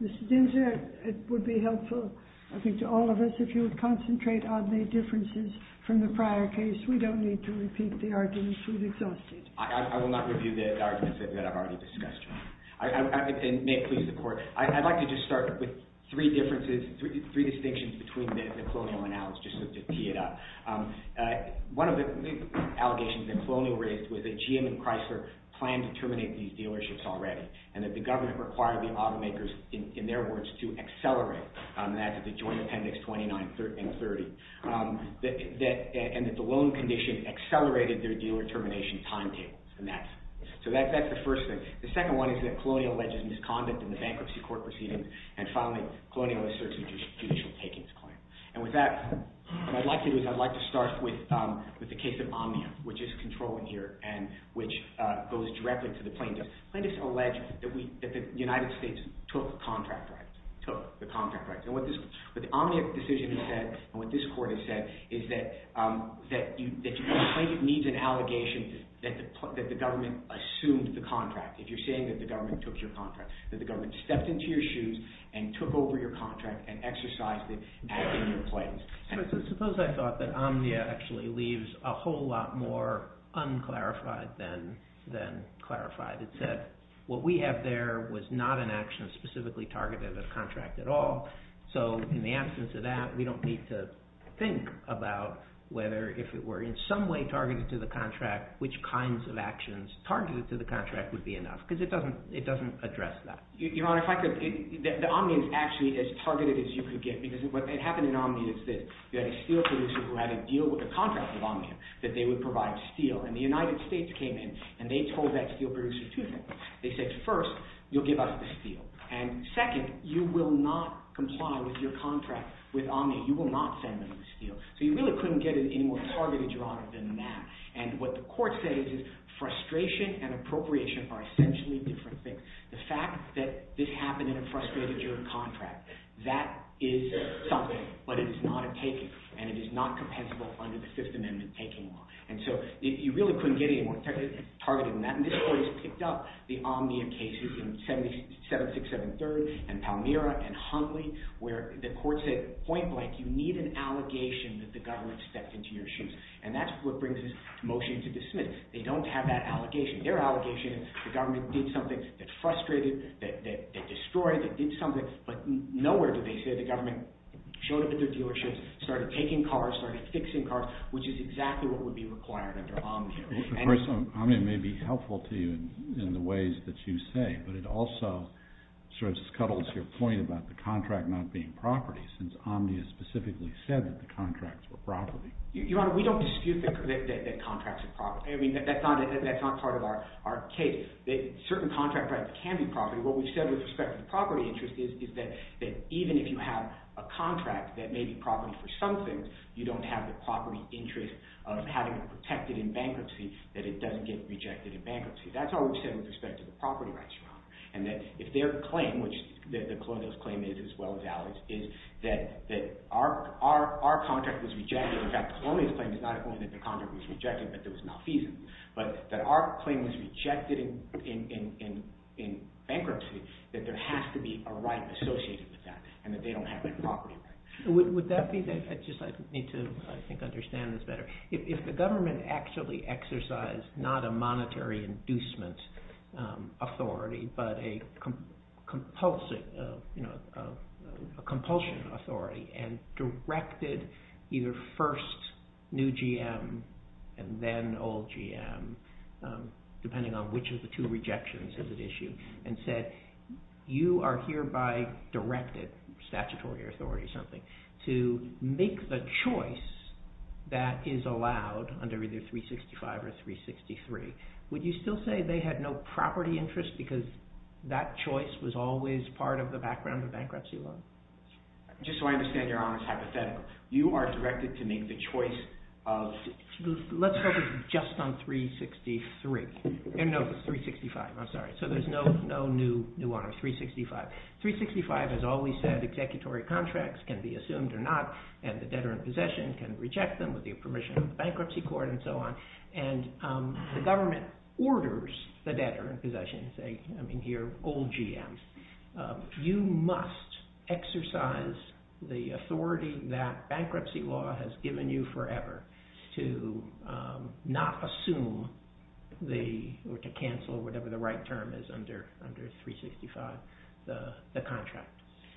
MR. DINZER, IT WOULD BE HELPFUL TO ALL OF US IF YOU WOULD CONCENTRATE ON THE DIFFERENCES FROM THE PRIOR CASE. WE DON'T NEED TO REPEAT THE ARGUMENTS WE'VE EXHAUSTED. I WOULD LIKE TO START WITH THREE DIFFERENCES, THREE DISTINCTIONS BETWEEN THE NECLONIAL ANALYSIS. ONE OF THE ALLEGATIONS NECLONIAL RAISED WAS THAT GM AND CHRYSLER PLANNED TO TERMINATE THESE DEALERSHIPS ALREADY, AND THAT THE GOVERNMENT REQUIRED THE AUTOMAKERS, IN THEIR WORDS, TO ACCELERATE, AND THAT'S AT THE JOINT APPENDIX 29 AND 30, AND THAT THE LOAN CONDITION ACCELERATED THEIR DEALER TERMINATION TIMETABLES. SO THAT'S THE FIRST THING. THE SECOND ONE IS THAT COLONIAL ALLEGES MISCONDUCT IN THE BANKRUPTCY COURT PROCEEDINGS, AND FINALLY, COLONIAL ASSERTS JUDICIAL TAKINGS CLAIM. AND WITH THAT, WHAT I'D LIKE TO DO IS I'D LIKE TO START WITH THE CASE OF OMNIUM, WHICH IS CONTROLLED HERE, AND WHICH GOES DIRECTLY TO THE PLAINTIFF. THE PLAINTIFF ALLEGES THAT THE UNITED STATES TOOK CONTRACT RIGHTS, TOOK THE CONTRACT RIGHTS. AND WHAT THE OMNIUM DECISION HAS SAID, AND WHAT THIS COURT HAS SAID, IS THAT THE PLAINTIFF NEEDS AN ALLEGATION THAT THE GOVERNMENT ASSUMED THE CONTRACT. IF YOU'RE SAYING THAT THE GOVERNMENT TOOK YOUR CONTRACT, THAT THE GOVERNMENT STEPPED INTO YOUR SHOES AND TOOK OVER YOUR CONTRACT AND EXERCISED IT AS IN YOUR PLAINS. So suppose I thought that Omnia actually leaves a whole lot more un-clarified than clarified. It said, what we have there was not an action specifically targeted at a contract at all, so in the absence of that, we don't need to think about whether if it were in some way targeted to the contract, which kinds of actions targeted to the contract would be enough, because it doesn't address that. Your Honor, if I could, the Omnium is actually as targeted as you could get, because what happened in Omnia is this, you had a steel producer who had a deal with a contract with Omnium that they would provide steel, and the United States came in and they told that steel producer two things. They said, first, you'll give us the steel, and second, you will not comply with your contract with Omnium, you will not send them the steel. So you really couldn't get it any more targeted, Your Honor, than that, and what the court said is frustration and appropriation are essentially different things. The fact that this happened in a frustrated juror contract, that is something, but it is not a taking, and it is not compensable under the Fifth Amendment taking law, and so you really couldn't get any more targeted than that, and this court has picked up the 7673rd, and Palmyra, and Hundley, where the court said point blank, you need an allegation that the government stepped into your shoes, and that's what brings this motion to dismiss. They don't have that allegation. Their allegation is the government did something that frustrated, that destroyed, that did something, but nowhere did they say the government showed up at their dealerships, started taking cars, started fixing cars, which is exactly what would be required under Omnium. Of course, Omnium may be helpful to you in the ways that you say, but it also sort of scuttles your point about the contract not being property, since Omnium specifically said that the contracts were property. Your Honor, we don't dispute that contracts are property. I mean, that's not part of our case. Certain contract rights can be property. What we've said with respect to the property interest is that even if you have a contract that may be property for some things, you don't have the property interest of having it protected in bankruptcy, that it doesn't get rejected in bankruptcy. That's all we've said with respect to the property rights, Your Honor, and that if their claim, which the Colonial's claim is, as well as Ali's, is that our contract was rejected, in fact, the Colonial's claim is not only that the contract was rejected, but there was malfeasance, but that our claim was rejected in bankruptcy, that there has to be a right associated with that, and that they don't have that property right. Would that be, I just need to, I think, understand this better. If the government actually exercised not a monetary inducement authority, but a compulsive, you know, a compulsion authority, and directed either first new GM and then old GM, depending on which of the two rejections is at issue, and said, you are hereby directed, statutory authority or something, to make the choice that is allowed under either 365 or 363, would you still say they had no property interest because that choice was always part of the background of bankruptcy law? Just so I understand, Your Honor, it's hypothetical. You are directed to make the choice of, let's focus just on 363. No, it's 365, I'm sorry. So there's no new one on 365. 365 has always said executory contracts can be assumed or not, and the debtor in possession can reject them with the permission of the bankruptcy court and so on, and the government orders the debtor in possession, I mean here, old GMs, you must exercise the authority that not assume or to cancel whatever the right term is under 365, the contract.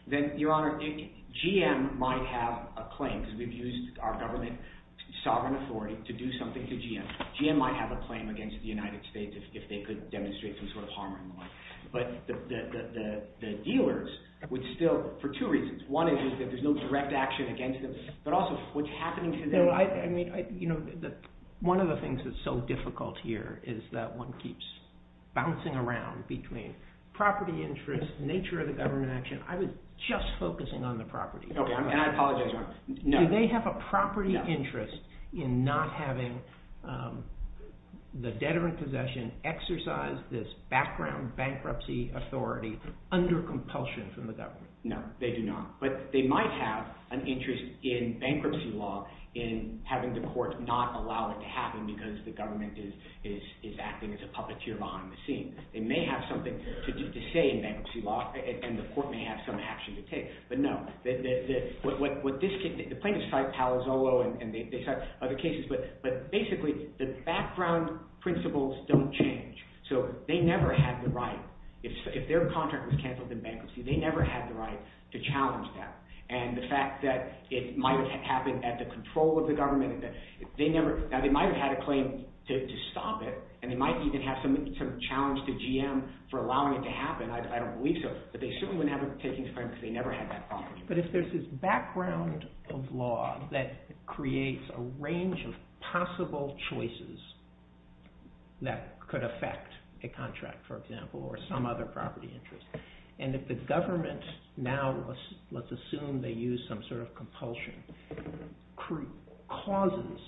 Then, Your Honor, GM might have a claim, because we've used our government sovereign authority to do something to GM. GM might have a claim against the United States if they could demonstrate some sort of harm or malign. But the dealers would still, for two reasons, one is that there's no direct action against them, but also what's happening to their... One of the things that's so difficult here is that one keeps bouncing around between property interest, nature of the government action. I was just focusing on the property. Okay, and I apologize, Your Honor. No. Do they have a property interest in not having the debtor in possession exercise this background bankruptcy authority under compulsion from the government? No, they do not. But they might have an interest in bankruptcy law in having the court not allow it to happen because the government is acting as a puppeteer behind the scenes. They may have something to say in bankruptcy law, and the court may have some action to take. But no. The plaintiffs cite Palazzolo, and they cite other cases, but basically the background principles don't change. So they never had the right, if their contract was canceled in bankruptcy, they never had the right to challenge that. And the fact that it might have happened at the control of the government, they might have had a claim to stop it, and they might even have some challenge to GM for allowing it to happen. I don't believe so. But they certainly wouldn't have a taking the claim because they never had that property. But if there's this background of law that creates a range of possible choices that could affect a contract, for example, or some other property interest, and if the government now, let's assume they use some sort of compulsion, causes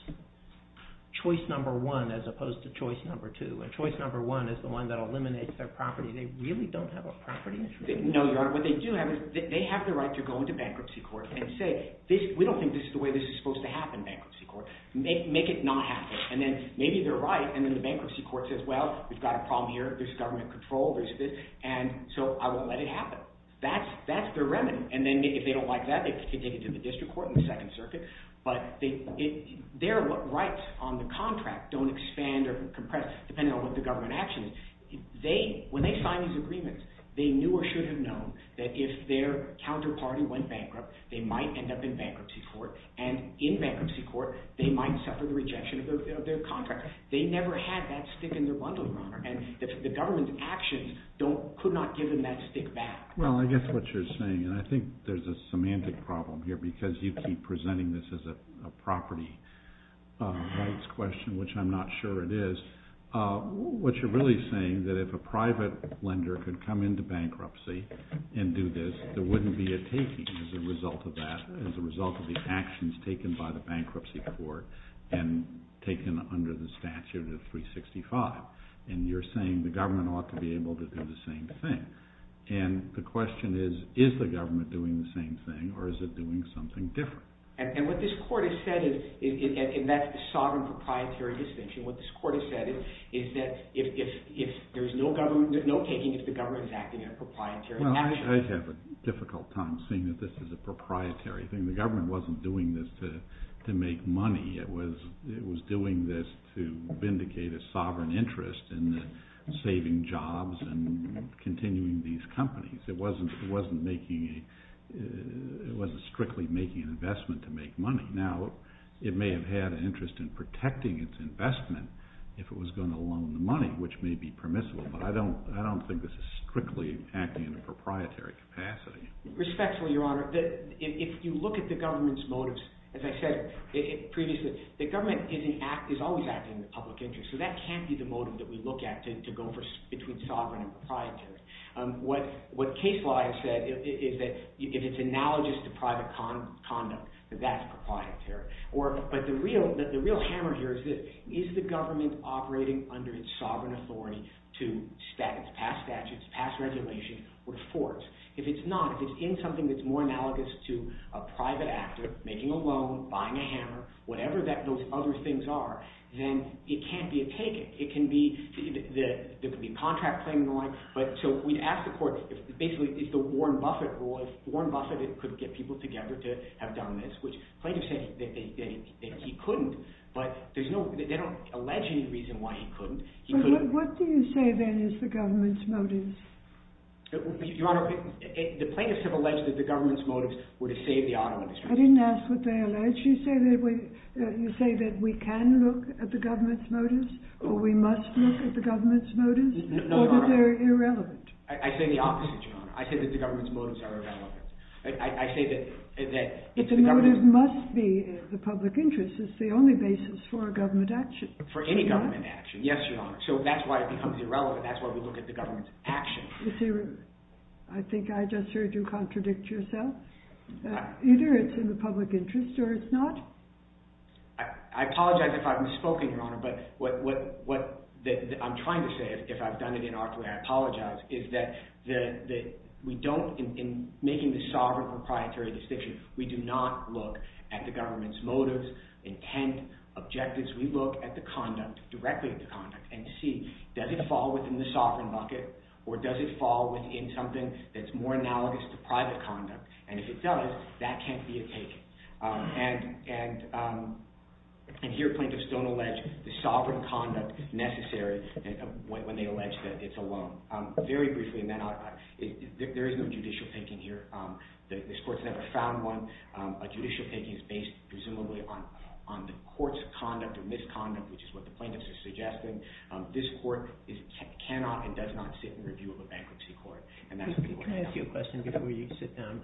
choice number one as opposed to choice number two, and choice number one is the one that eliminates their property, they really don't have a property interest? No, Your Honor. What they do have is they have the right to go into bankruptcy court and say, we don't think this is the way this is supposed to happen, bankruptcy court. Make it not happen. And then maybe they're right, and then the bankruptcy court says, well, we've got a problem here, there's government control, there's this, and so I won't let it happen. That's their remedy. And then if they don't like that, they can take it to the district court in the Second Circuit. But their rights on the contract don't expand or compress, depending on what the government action is. When they sign these agreements, they knew or should have known that if their counterparty went bankrupt, they might end up in bankruptcy court, and in bankruptcy court, they might suffer the rejection of their contract. They never had that stick in their bundle, Your Honor, and the government actions could not give them that stick back. Well, I guess what you're saying, and I think there's a semantic problem here because you keep presenting this as a property rights question, which I'm not sure it is. What you're really saying is that if a private lender could come into bankruptcy and do this, there is a result of the actions taken by the bankruptcy court and taken under the statute of 365. And you're saying the government ought to be able to do the same thing. And the question is, is the government doing the same thing, or is it doing something different? And what this court has said is, and that's the sovereign proprietary distinction, what this court has said is that there's no taking if the government is acting in a proprietary fashion. I have a difficult time seeing that this is a proprietary thing. The government wasn't doing this to make money. It was doing this to vindicate a sovereign interest in saving jobs and continuing these companies. It wasn't strictly making an investment to make money. Now, it may have had an interest in protecting its investment if it was going to loan the Respectfully, Your Honor, if you look at the government's motives, as I said previously, the government is always acting in the public interest. So that can't be the motive that we look at to go between sovereign and proprietary. What case law has said is that if it's analogous to private conduct, that that's proprietary. But the real hammer here is this. Is the government operating under its sovereign authority to pass statutes, pass regulations, or force? If it's not, if it's in something that's more analogous to a private actor making a loan, buying a hammer, whatever those other things are, then it can't be a taking. There could be contract claiming and the like. So we'd ask the court, basically, if the Warren Buffett law, if Warren Buffett could get people together to have done this, which plaintiffs say that he couldn't, but they don't allege any reason why he couldn't. But what do you say, then, is the government's motives? Your Honor, the plaintiffs have alleged that the government's motives were to save the auto industry. I didn't ask what they alleged. You say that we can look at the government's motives, or we must look at the government's motives? No, Your Honor. Or that they're irrelevant? I say the opposite, Your Honor. I say that the government's motives are irrelevant. But the motive must be the public interest. It's the only basis for a government action. For any government action, yes, Your Honor. So that's why it becomes irrelevant. That's why we look at the government's actions. You see, I think I just heard you contradict yourself. Either it's in the public interest or it's not. I apologize if I've misspoken, Your Honor, but what I'm trying to say, if I've done it incorrectly, I apologize, is that we don't, in making the sovereign proprietary distinction, we do not look at the government's motives, intent, objectives. We look at the conduct, directly at the conduct, and see, does it fall within the sovereign bucket, or does it fall within something that's more analogous to private conduct? And if it does, that can't be a take. And here plaintiffs don't allege the sovereign conduct necessary when they allege that it's a loan. Very briefly, there is no judicial taking here. This court's never found one. A judicial taking is based, presumably, on the court's conduct or misconduct, which is what the plaintiffs are suggesting. This court cannot and does not sit in review of a bankruptcy court. Can I ask you a question before you sit down?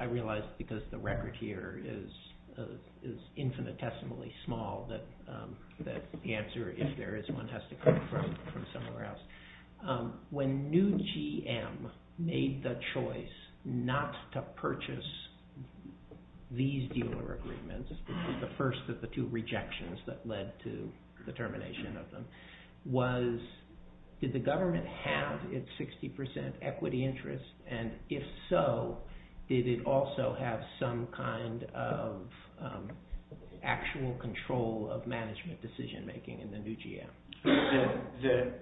I realize, because the record here is infinitesimally small, that the answer, if there is one, has to come from somewhere else. When New GM made the choice not to purchase these dealer agreements, which was the first of the two rejections that led to the termination of them, did the government have its 60% equity interest, and if so, did it also have some kind of actual control of management decision making in the New GM?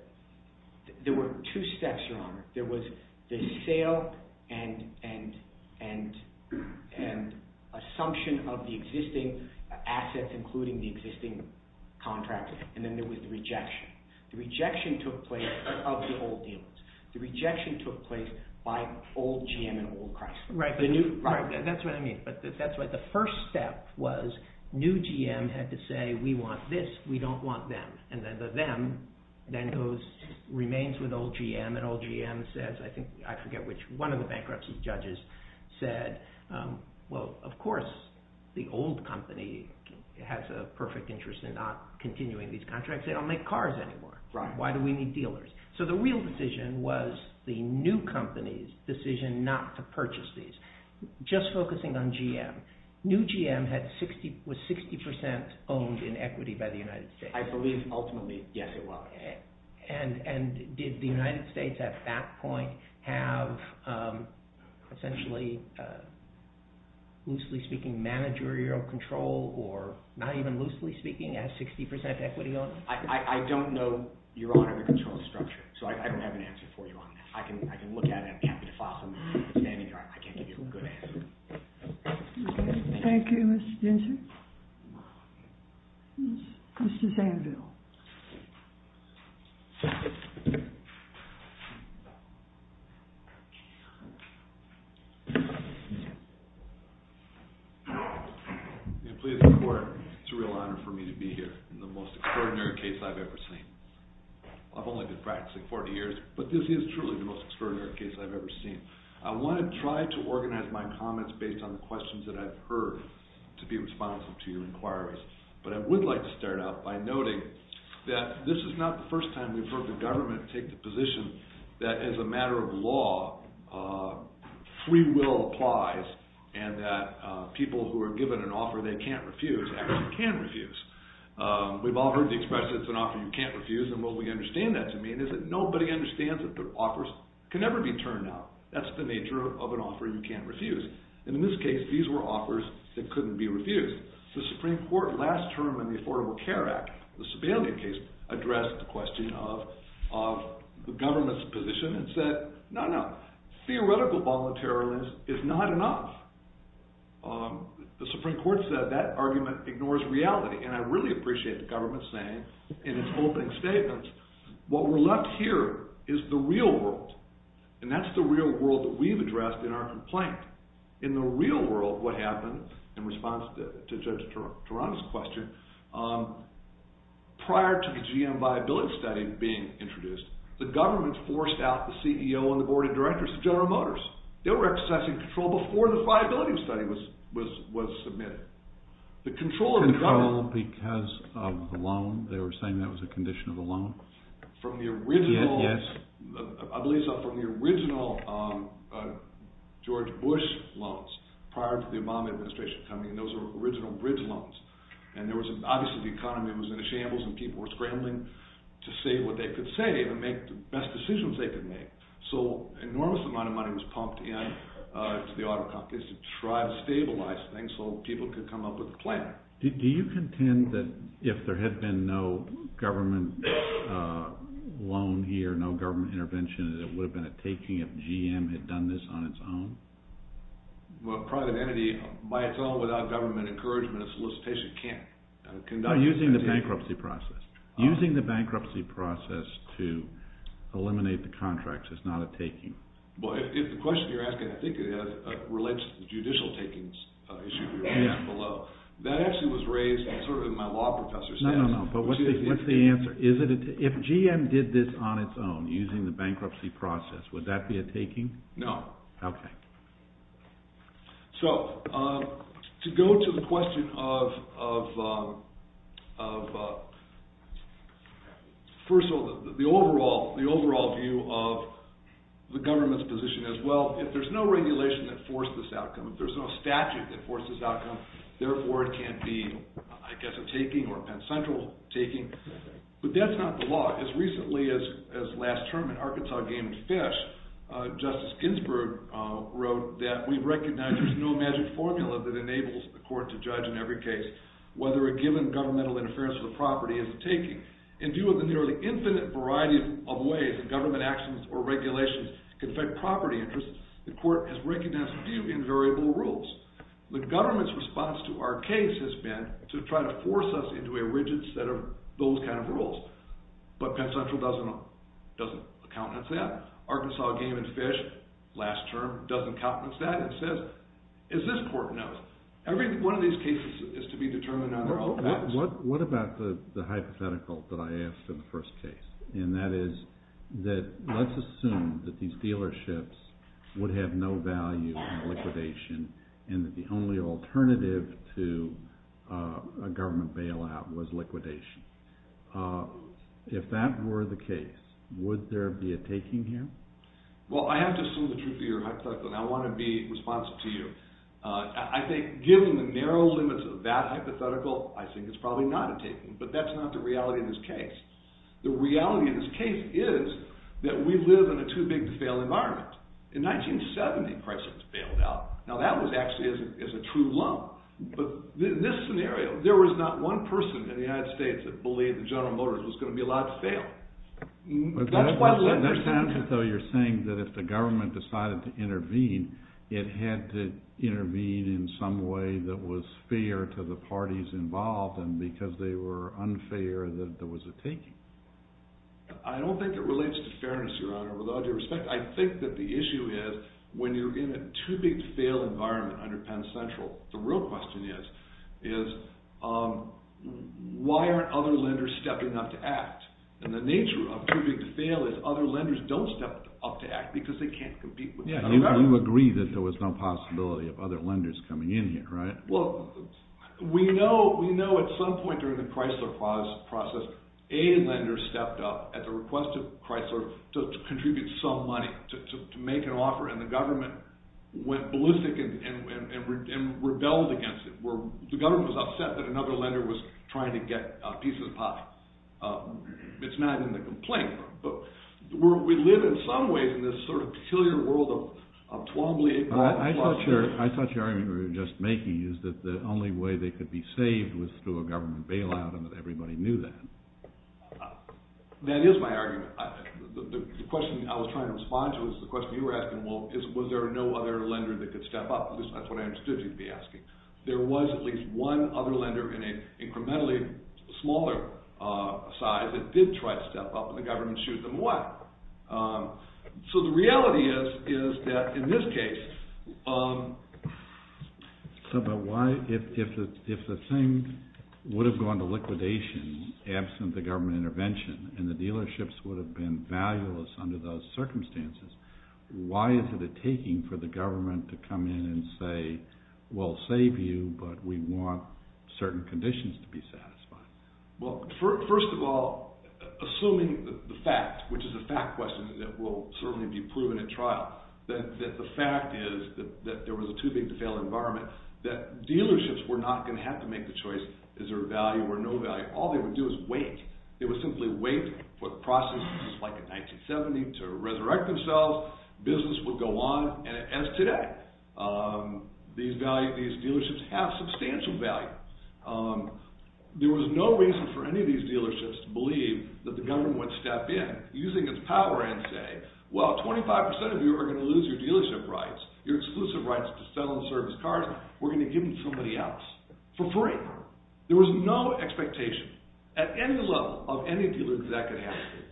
There were two steps, Your Honor. There was the sale and assumption of the existing assets, including the existing contract, and then there was the rejection. The rejection took place of the old dealers. The rejection took place by old GM and old Chrysler. Right. That's what I mean. That's why the first step was New GM had to say, we want this, we don't want them. And then the them then remains with old GM, and old GM says, I forget which, one of the bankruptcy judges said, well, of course, the old company has a perfect interest in not continuing these contracts. They don't make cars anymore. Right. Why do we need dealers? So the real decision was the new company's decision not to purchase these. Just focusing on GM, New GM was 60% owned in equity by the United States. I believe ultimately, yes, it was. And did the United States at that point have essentially, loosely speaking, managerial control, or not even loosely speaking, as 60% equity owned? I don't know your audit control structure, so I don't have an answer for you on that. I can look at it. I'm happy to follow. I can't give you a good answer. Thank you, Mr. Jensen. Mr. Zanville. It's a real honor for me to be here in the most extraordinary case I've ever seen. I've only been practicing 40 years, but this is truly the most extraordinary case I've ever seen. I want to try to organize my comments based on the questions that I've heard to be responsive to your inquiries, but I would like to start out by noting that this is not the first time we've heard the government take the position that as a matter of law, free will applies, and that people who are given an offer they can't refuse actually can refuse. We've all heard the expression, it's an offer you can't refuse, and what we understand that to mean is that nobody understands that their offers can never be turned out. That's the nature of an offer you can't refuse. And in this case, these were offers that couldn't be refused. The Supreme Court last term in the Affordable Care Act, the Sebelius case, addressed the question of the government's position and said, no, no, theoretical voluntariliness is not enough. The Supreme Court said that argument ignores reality, and I really appreciate the government saying in its opening statements, what we're left here is the real world, and that's the real world that we've addressed in our complaint. In the real world, what happened, in response to Judge Tarana's question, prior to the GM viability study being introduced, the government forced out the CEO and the Board of Directors of General Motors. They were accessing control before the viability study was submitted. The control of the government... George Bush loans prior to the Obama administration coming in, those were original bridge loans, and there was obviously the economy was in a shambles and people were scrambling to say what they could say to make the best decisions they could make, so enormous amounts of money was pumped in to the auto companies to try to stabilize things so people could come up with a plan. Do you contend that if there had been no government loan here, no government intervention, that it would have been a taking if GM had done this on its own? Well, a private entity, by its own, without government encouragement or solicitation, can't conduct... No, using the bankruptcy process. Using the bankruptcy process to eliminate the contracts is not a taking. Well, if the question you're asking, I think it relates to the judicial takings issue you're asking below, that actually was raised in sort of my law professor sense... Would that be a taking? No. Okay. So, to go to the question of, first of all, the overall view of the government's position as well, if there's no regulation that forced this outcome, if there's no statute that forced this outcome, therefore it can't be, I guess, a taking or a Penn Central taking, but that's not the law. As recently as last term in Arkansas Game and Fish, Justice Ginsburg wrote that we recognize there's no magic formula that enables the court to judge in every case whether a given governmental interference with property is a taking. In view of the nearly infinite variety of ways that government actions or regulations can affect property interests, the court has recognized a few invariable rules. The government's response to our case has been to try to force us into a rigid set of those kind of rules, but Penn Central doesn't countenance that. Arkansas Game and Fish, last term, doesn't countenance that and says, as this court knows, every one of these cases is to be determined on their own facts. What about the hypothetical that I asked in the first case, and that is that let's assume that these dealerships would have no value in liquidation and that the only alternative to a government bailout was liquidation. If that were the case, would there be a taking here? Well, I have to assume the truth of your hypothetical, and I want to be responsive to you. I think, given the narrow limits of that hypothetical, I think it's probably not a taking, but that's not the reality of this case. The reality of this case is that we live in a too-big-to-fail environment. In 1970, Price was bailed out. Now, that was actually a true lull, but in this scenario, there was not one person in the United States that believed that General Motors was going to be allowed to fail. That's why... That sounds as though you're saying that if the government decided to intervene, it had to intervene in some way that was fair to the parties involved and because they were unfair, that there was a taking. I don't think it relates to fairness, Your Honor, with all due respect. I think that the issue is, when you're in a too-big-to-fail environment under Penn Central, the real question is, why aren't other lenders stepping up to act? And the nature of too-big-to-fail is other lenders don't step up to act because they can't compete with... You agree that there was no possibility of other lenders coming in here, right? Well, we know at some point during the Chrysler process, a lender stepped up at the request of Chrysler to contribute some money, to make an offer, and the government went ballistic and rebelled against it. The government was upset that another lender was trying to get a piece of the pie. It's not in the complaint, but we live in some ways in this sort of peculiar world of twombly... I thought your argument you were just making is that the only way they could be saved was through a government bailout and that everybody knew that. That is my argument. The question I was trying to respond to is the question you were asking, well, was there no other lender that could step up? At least that's what I understood you to be asking. There was at least one other lender in an incrementally smaller size that did try to step up, and the government shooed them away. So the reality is, is that in this case... But why, if the thing would have gone to liquidation, absent the government intervention, and the dealerships would have been valueless under those circumstances, why is it a taking for the government to come in and say, we'll save you, but we want certain conditions to be satisfied? Well, first of all, assuming the fact, which is a fact question that will certainly be that dealerships were not going to have to make the choice, is there a value or no value. All they would do is wait. They would simply wait for the process, just like in 1970, to resurrect themselves. Business would go on, and as today, these dealerships have substantial value. There was no reason for any of these dealerships to believe that the government would step in, using its power, and say, well, 25% of you are going to lose your dealership rights, your exclusive rights to sell and service cars. We're going to give them to somebody else, for free. There was no expectation, at any level, of any dealer that that could happen.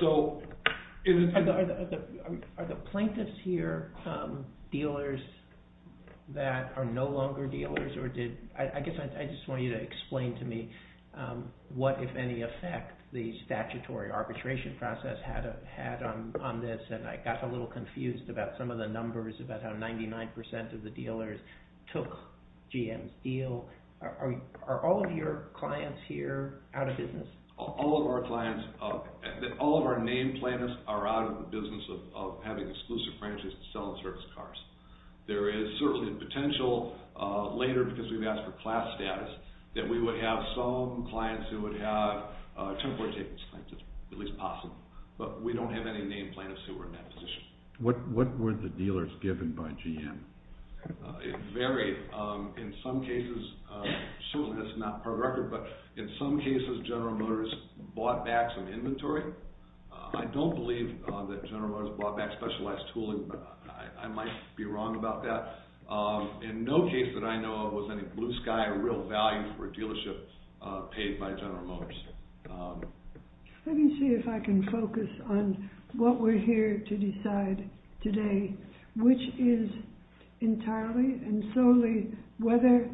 So... Are the plaintiffs here dealers that are no longer dealers, or did... I guess I just want you to explain to me what, if any effect, the statutory arbitration process had on this, and I got a little confused about some of the numbers, about how 99% of the dealers took GM's deal. Are all of your clients here out of business? All of our clients, all of our name plaintiffs are out of the business of having exclusive franchise to sell and service cars. There is certainly the potential, later, because we've asked for class status, that we would have some clients who would have temporary takings, at least possible, but we don't have any name plaintiffs who are in that position. What were the dealers given by GM? It varied. In some cases, certainly that's not part of the record, but in some cases, General Motors bought back some inventory. I don't believe that General Motors bought back specialized tooling, but I might be wrong about that. In no case that I know of was any blue sky real value for a dealership paid by General Motors. Let me see if I can focus on what we're here to decide today, which is entirely and solely whether,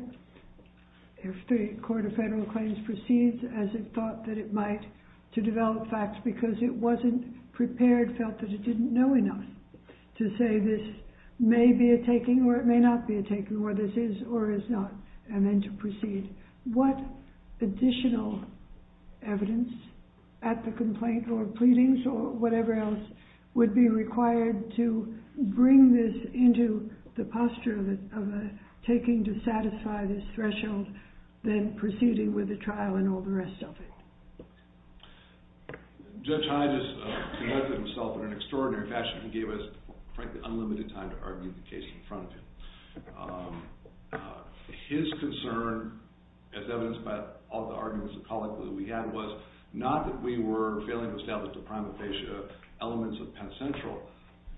if the Court of Federal Claims proceeds as it thought that it might, to develop facts because it wasn't prepared, felt that it didn't know enough, to say this may be a taking or it may not be a taking, or this is or is not, and then to proceed. What additional evidence at the complaint or pleadings or whatever else would be required to bring this into the posture of a taking to satisfy this threshold, then proceeding with the trial and all the rest of it? Judge Hyde has conducted himself in an extraordinary fashion. He gave us, frankly, unlimited time to argue the case in front of him. His concern, as evidenced by all the arguments and colloquy that we had, was not that we were failing to establish the primal fascia elements of Penn Central,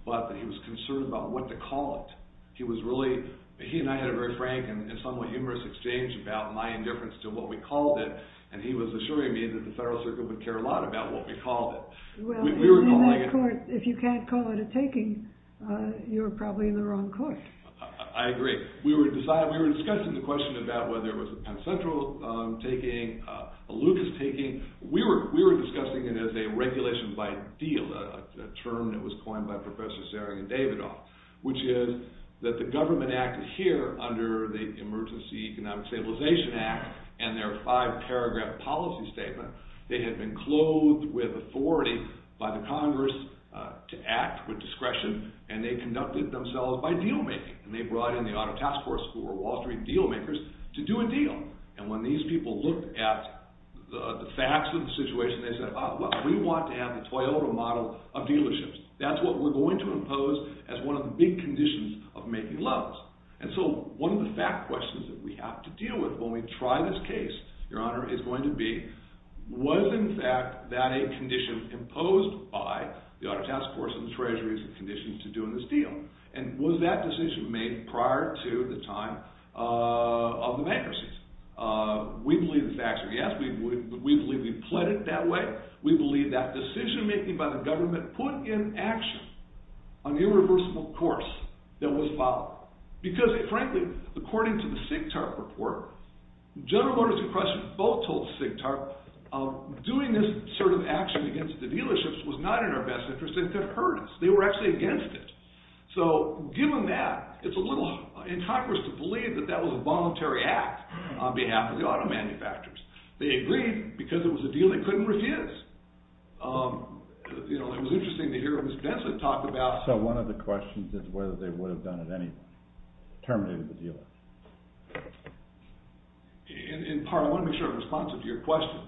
but that he was concerned about what to call it. He and I had a very frank and somewhat humorous exchange about my indifference to what we called it. Well, in that court, if you can't call it a taking, you're probably in the wrong court. I agree. We were discussing the question about whether it was a Penn Central taking, a Lucas taking. We were discussing it as a regulation by deal, a term that was coined by Professor Sering and Davidoff, which is that the government act here, under the Emergency Economic Stabilization Act and their five-paragraph policy statement, they had been clothed with authority by the Congress to act with discretion, and they conducted themselves by deal-making. They brought in the auto task force, who were Wall Street deal-makers, to do a deal. When these people looked at the facts of the situation, they said, oh, well, we want to have the Toyota model of dealerships. That's what we're going to impose as one of the big conditions of making loans. And so one of the fact questions that we have to deal with when we try this case, Your Honor, is going to be, was in fact that a condition imposed by the auto task force and the treasuries a condition to doing this deal? And was that decision made prior to the time of the bankruptcy? We believe the facts are yes. We believe we pled it that way. We believe that decision-making by the government put in action an irreversible course that was followed. Because, frankly, according to the SIGTARP report, General Motors and Chrysler both told SIGTARP doing this sort of action against the dealerships was not in our best interest. They could have heard us. They were actually against it. So given that, it's a little incongruous to believe that that was a voluntary act on behalf of the auto manufacturers. They agreed because it was a deal they couldn't refuse. You know, it was interesting to hear Ms. Benson talk about. Also, one of the questions is whether they would have done it anyway, terminated the dealer. In part, I want to make sure I'm responsive to your question.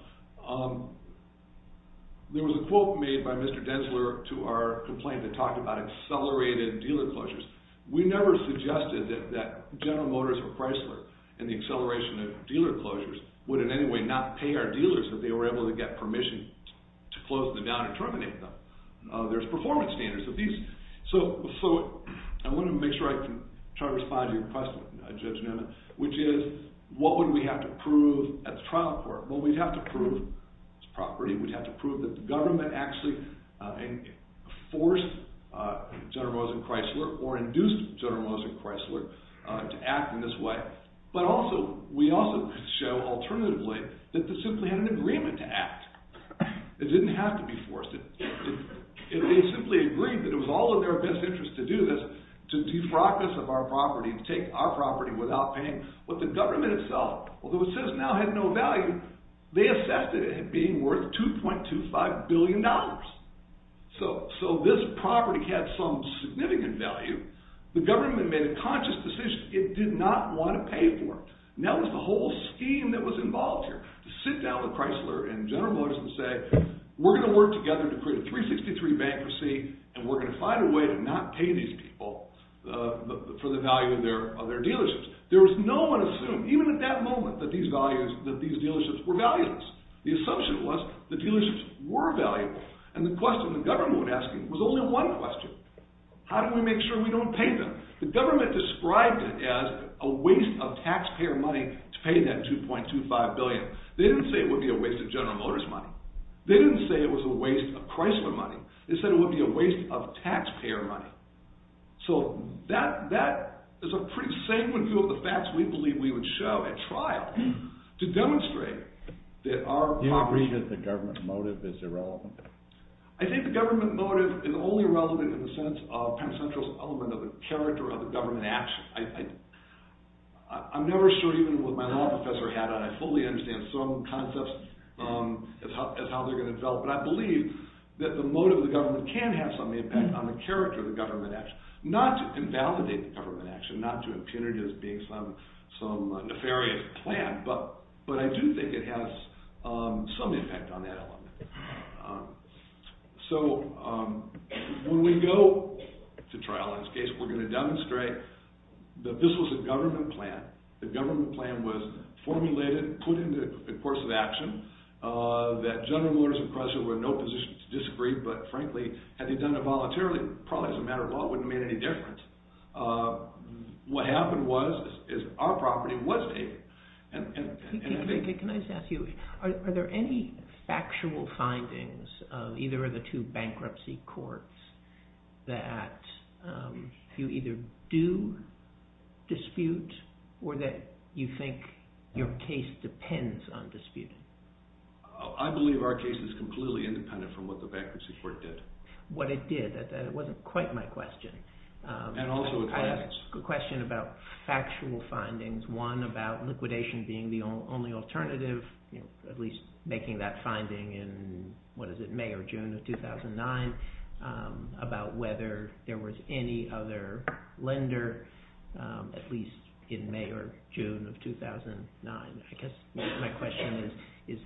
There was a quote made by Mr. Densler to our complaint that talked about accelerated dealer closures. We never suggested that General Motors or Chrysler in the acceleration of dealer closures would in any way not pay our dealers that they were able to get permission to close them down and terminate them. There's performance standards. I want to make sure I can try to respond to your question, Judge Newman, which is what would we have to prove at the trial court? Well, we'd have to prove it's property. We'd have to prove that the government actually forced General Motors and Chrysler or induced General Motors and Chrysler to act in this way. But also, we also could show alternatively that they simply had an agreement to act. It didn't have to be forced. They simply agreed that it was all in their best interest to do this, to defrock us of our property and take our property without paying. But the government itself, although it says now had no value, they assessed it as being worth $2.25 billion. So this property had some significant value. The government made a conscious decision. It did not want to pay for it. That was the whole scheme that was involved here, to sit down with Chrysler and General Motors and say, we're going to work together to create a 363 bankruptcy and we're going to find a way to not pay these people for the value of their dealerships. There was no one assumed, even at that moment, that these dealerships were valueless. The assumption was the dealerships were valuable. And the question the government was asking was only one question. How do we make sure we don't pay them? The government described it as a waste of taxpayer money to pay that $2.25 billion. They didn't say it would be a waste of General Motors money. They didn't say it was a waste of Chrysler money. They said it would be a waste of taxpayer money. So that is a pretty sanguine view of the facts we believe we would show at trial to demonstrate that our property... Do you agree that the government motive is irrelevant? I think the government motive is only relevant in the sense of Penn Central's element of the character of the government action. I'm never sure even what my law professor had on it. I fully understand some concepts as how they're going to develop, but I believe that the motive of the government can have some impact on the character of the government action. Not to invalidate the government action, not to impugn it as being some nefarious plan, but I do think it has some impact on that element. So when we go to trial in this case, we're going to demonstrate that this was a government plan. The government plan was formulated, put into the course of action, that General Motors and Chrysler were in no position to disagree, but frankly, had they done it voluntarily, probably as a matter of law, it wouldn't have made any difference. What happened was, is our property was taken. Can I just ask you, are there any factual findings of either of the two bankruptcy courts that you either do dispute, or that you think your case depends on disputing? I believe our case is completely independent from what the bankruptcy court did. What it did, that wasn't quite my question. And also it wasn't. It's a question about factual findings, one about liquidation being the only alternative, at least making that finding in, what is it, May or June of 2009, about whether there was any other lender, at least in May or June of 2009. I guess my question is,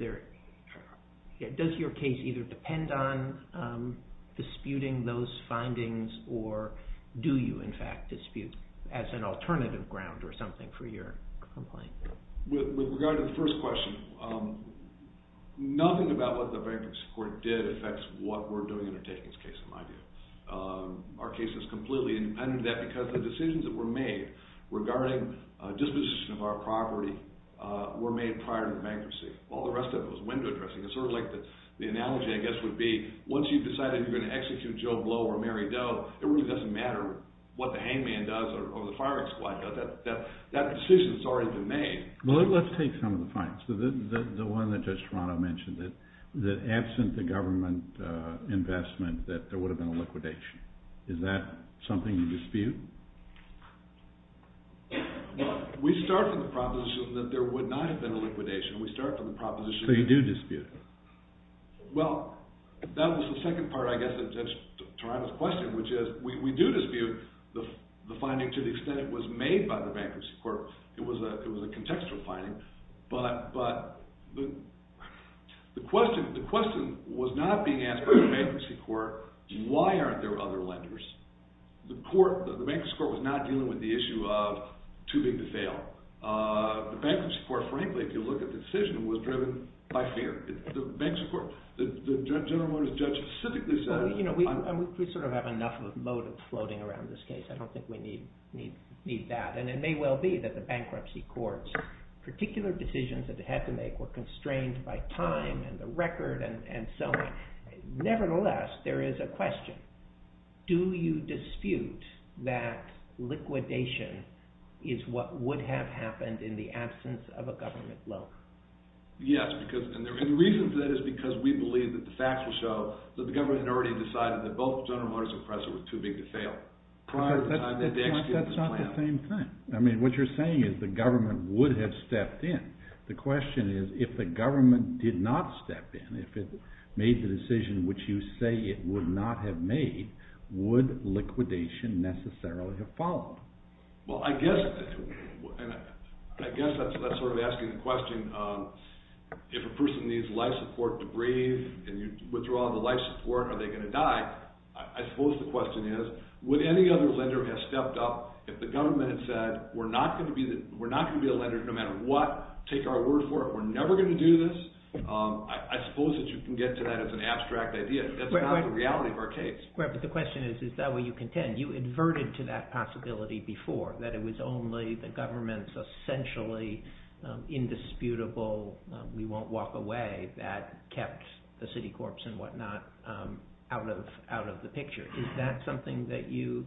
does your case either depend on disputing those findings, or do you, in fact, dispute as an alternative ground or something for your complaint? With regard to the first question, nothing about what the bankruptcy court did affects what we're doing in the Takings case, in my view. Our case is completely independent of that because the decisions that were made regarding disposition of our property were made prior to bankruptcy. All the rest of it was window dressing. It's sort of like the analogy, I guess, would be, once you've decided you're going to execute Joe Blow or Mary Doe, it really doesn't matter what the hangman does or the firing squad does. That decision's already been made. Well, let's take some of the findings. The one that Judge Toronto mentioned, that absent the government investment, that there would have been a liquidation. Is that something you dispute? We start from the proposition that there would not have been a liquidation. We start from the proposition that there would not have been a liquidation. So you do dispute it? Well, that was the second part, I guess, of Judge Toronto's question, which is we do dispute the finding to the extent it was made by the bankruptcy court. It was a contextual finding. But the question was not being asked by the bankruptcy court, why aren't there other lenders? The bankruptcy court was not dealing with the issue of too big to fail. The bankruptcy court, frankly, if you look at the decision, was driven by fear. The bankruptcy court, the General Motors judge specifically said... Well, you know, we sort of have enough of a motive floating around this case. I don't think we need that. And it may well be that the bankruptcy court's particular decisions that it had to make were constrained by time and the record and so on. Nevertheless, there is a question. Do you dispute that liquidation is what would have happened in the absence of a government loan? Yes, and the reason for that is because we believe that the facts will show that the government had already decided that both General Motors and Chrysler were too big to fail. That's not the same thing. I mean, what you're saying is the government would have stepped in. The question is, if the government did not step in, if it made the decision which you say it would not have made, would liquidation necessarily have followed? Well, I guess that's sort of asking the question, if a person needs life support to breathe and you withdraw the life support, are they going to die? I suppose the question is, would any other lender have stepped up if the government had said, we're not going to be a lender no matter what, take our word for it. We're never going to do this. I suppose that you can get to that as an abstract idea. That's not the reality of our case. Right, but the question is, is that where you contend? You adverted to that possibility before, that it was only the government's essentially indisputable, we won't walk away, that kept the Citicorps and whatnot out of the picture. Is that something that you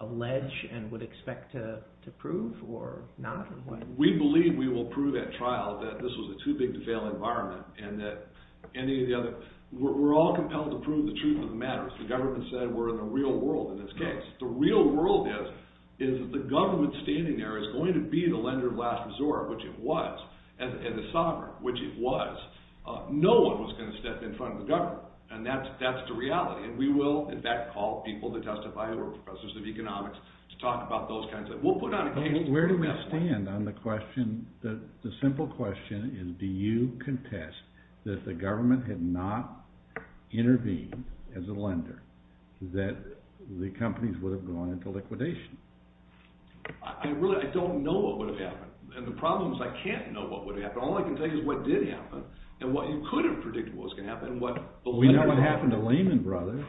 allege and would expect to prove or not? We believe we will prove at trial that this was a too big to fail environment and that any of the other, we're all compelled to prove the truth of the matter. The government said we're in the real world in this case. The real world is that the government standing there is going to be the lender of last resort, which it was, and the sovereign, which it was. No one was going to step in front of the government, and that's the reality. And we will, in fact, call people to testify or professors of economics to talk about those kinds of, we'll put out a case for that one. Where do we stand on the question, the simple question is, do you contest that the government had not intervened as a lender, that the companies would have gone into liquidation? I really don't know what would have happened, and the problem is I can't know what would have happened. All I can tell you is what did happen, and what you could have predicted what was going to happen. We know what happened to Lehman Brothers.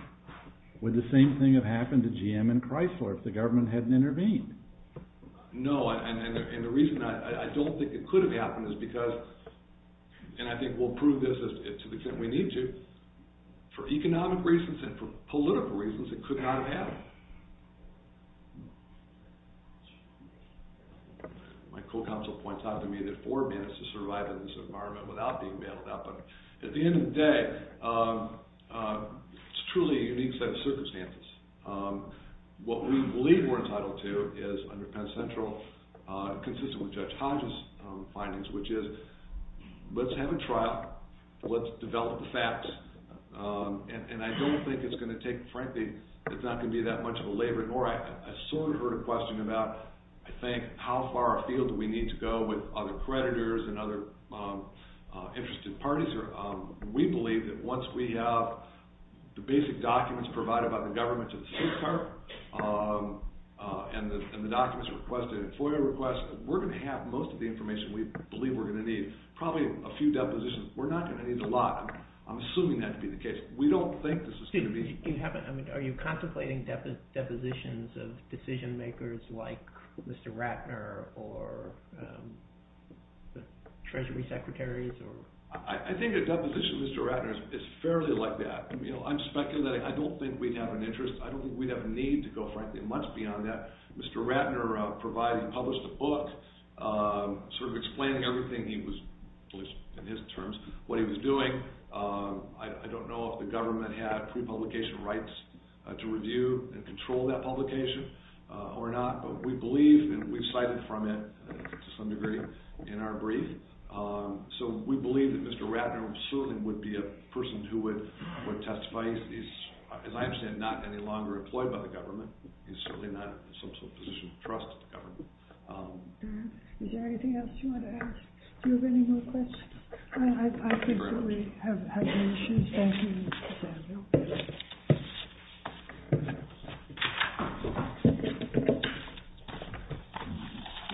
Would the same thing have happened to GM and Chrysler if the government hadn't intervened? No, and the reason I don't think it could have happened is because, and I think we'll prove this to the extent we need to, for economic reasons and for political reasons, it could not have happened. My co-counsel points out to me that four minutes to survive in this environment without being bailed out, but at the end of the day, it's truly a unique set of circumstances. What we believe we're entitled to is under Penn Central, consistent with Judge Hodge's findings, which is let's have a trial, let's develop the facts, and I don't think it's going to take, frankly, it's not going to be that much of a labor, nor I sort of heard a question about, I think, how far afield do we need to go with other creditors and other interested parties. We believe that once we have the basic documents provided by the government to the state department and the documents requested and FOIA requests, we're going to have most of the information we believe we're going to need, probably a few depositions. We're not going to need a lot. I'm assuming that to be the case. We don't think this is going to be... Are you contemplating depositions of decision makers like Mr. Ratner or the Treasury Secretaries? I think a deposition of Mr. Ratner is fairly like that. I'm speculating. I don't think we'd have an interest. I don't think we'd have a need to go, frankly, much beyond that. Mr. Ratner provided and published a book sort of explaining everything he was, at least in his terms, what he was doing. I don't know if the government had pre-publication rights to review and control that publication or not, but we believe and we've cited from it to some degree in our brief. So we believe that Mr. Ratner certainly would be a person who would testify. He's, as I understand, not any longer employed by the government. He's certainly not in a position to trust the government. Is there anything else you want to ask? Do you have any more questions? Thank you, Mr. Samuel. Thank you.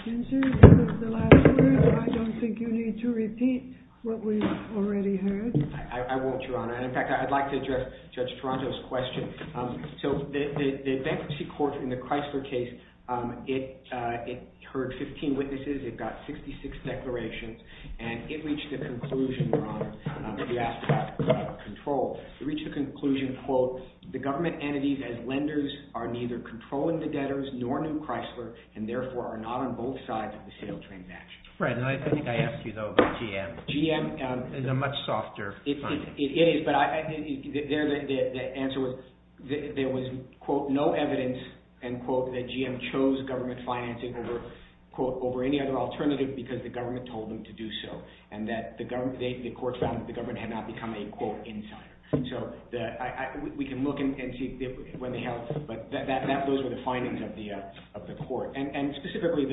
Ginger, this is the last word, but I don't think you need to repeat what we've already heard. I won't, Your Honor. In fact, I'd like to address Judge Toronto's question. So the bankruptcy court in the Chrysler case, it heard 15 witnesses. It got 66 declarations, and it reached a conclusion, Your Honor, if you ask about control. It reached a conclusion, quote, the government entities as lenders are neither controlling the debtors nor new Chrysler and therefore are not on both sides of the sale transaction. Fred, I think I asked you, though, about GM. GM is a much softer finding. It is, but the answer was there was, quote, no evidence, end quote, that GM chose government financing over, quote, over any other alternative because the government told them to do so and that the court found that the government had not become a, quote, insider. So we can look and see when they held. But those were the findings of the court. And specifically,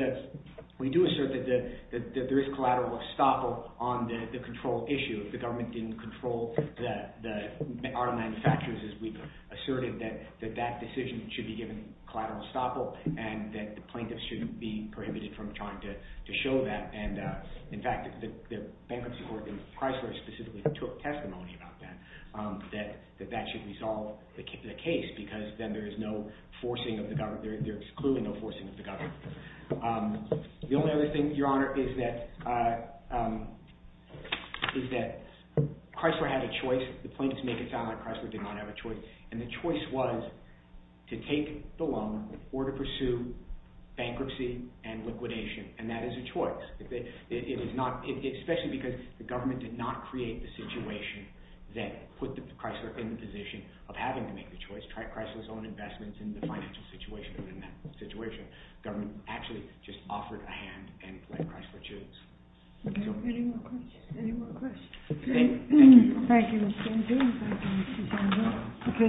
we do assert that there is collateral estoppel on the control issue. The government didn't control the auto manufacturers as we've asserted that that decision should be given collateral estoppel and that the plaintiffs shouldn't be prohibited from trying to show that. And, in fact, the bankruptcy court in Chrysler specifically took testimony about that, that that should resolve the case because then there is no forcing of the government. They're excluding no forcing of the government. The only other thing, Your Honor, is that Chrysler had a choice. The plaintiffs make it sound like Chrysler did not have a choice. And the choice was to take the loan or to pursue bankruptcy and liquidation. And that is a choice, especially because the government did not create the situation that put Chrysler in the position of having to make the choice, try Chrysler's own investments in the financial situation. And in that situation, the government actually just offered a hand and let Chrysler choose. Any more questions? Thank you.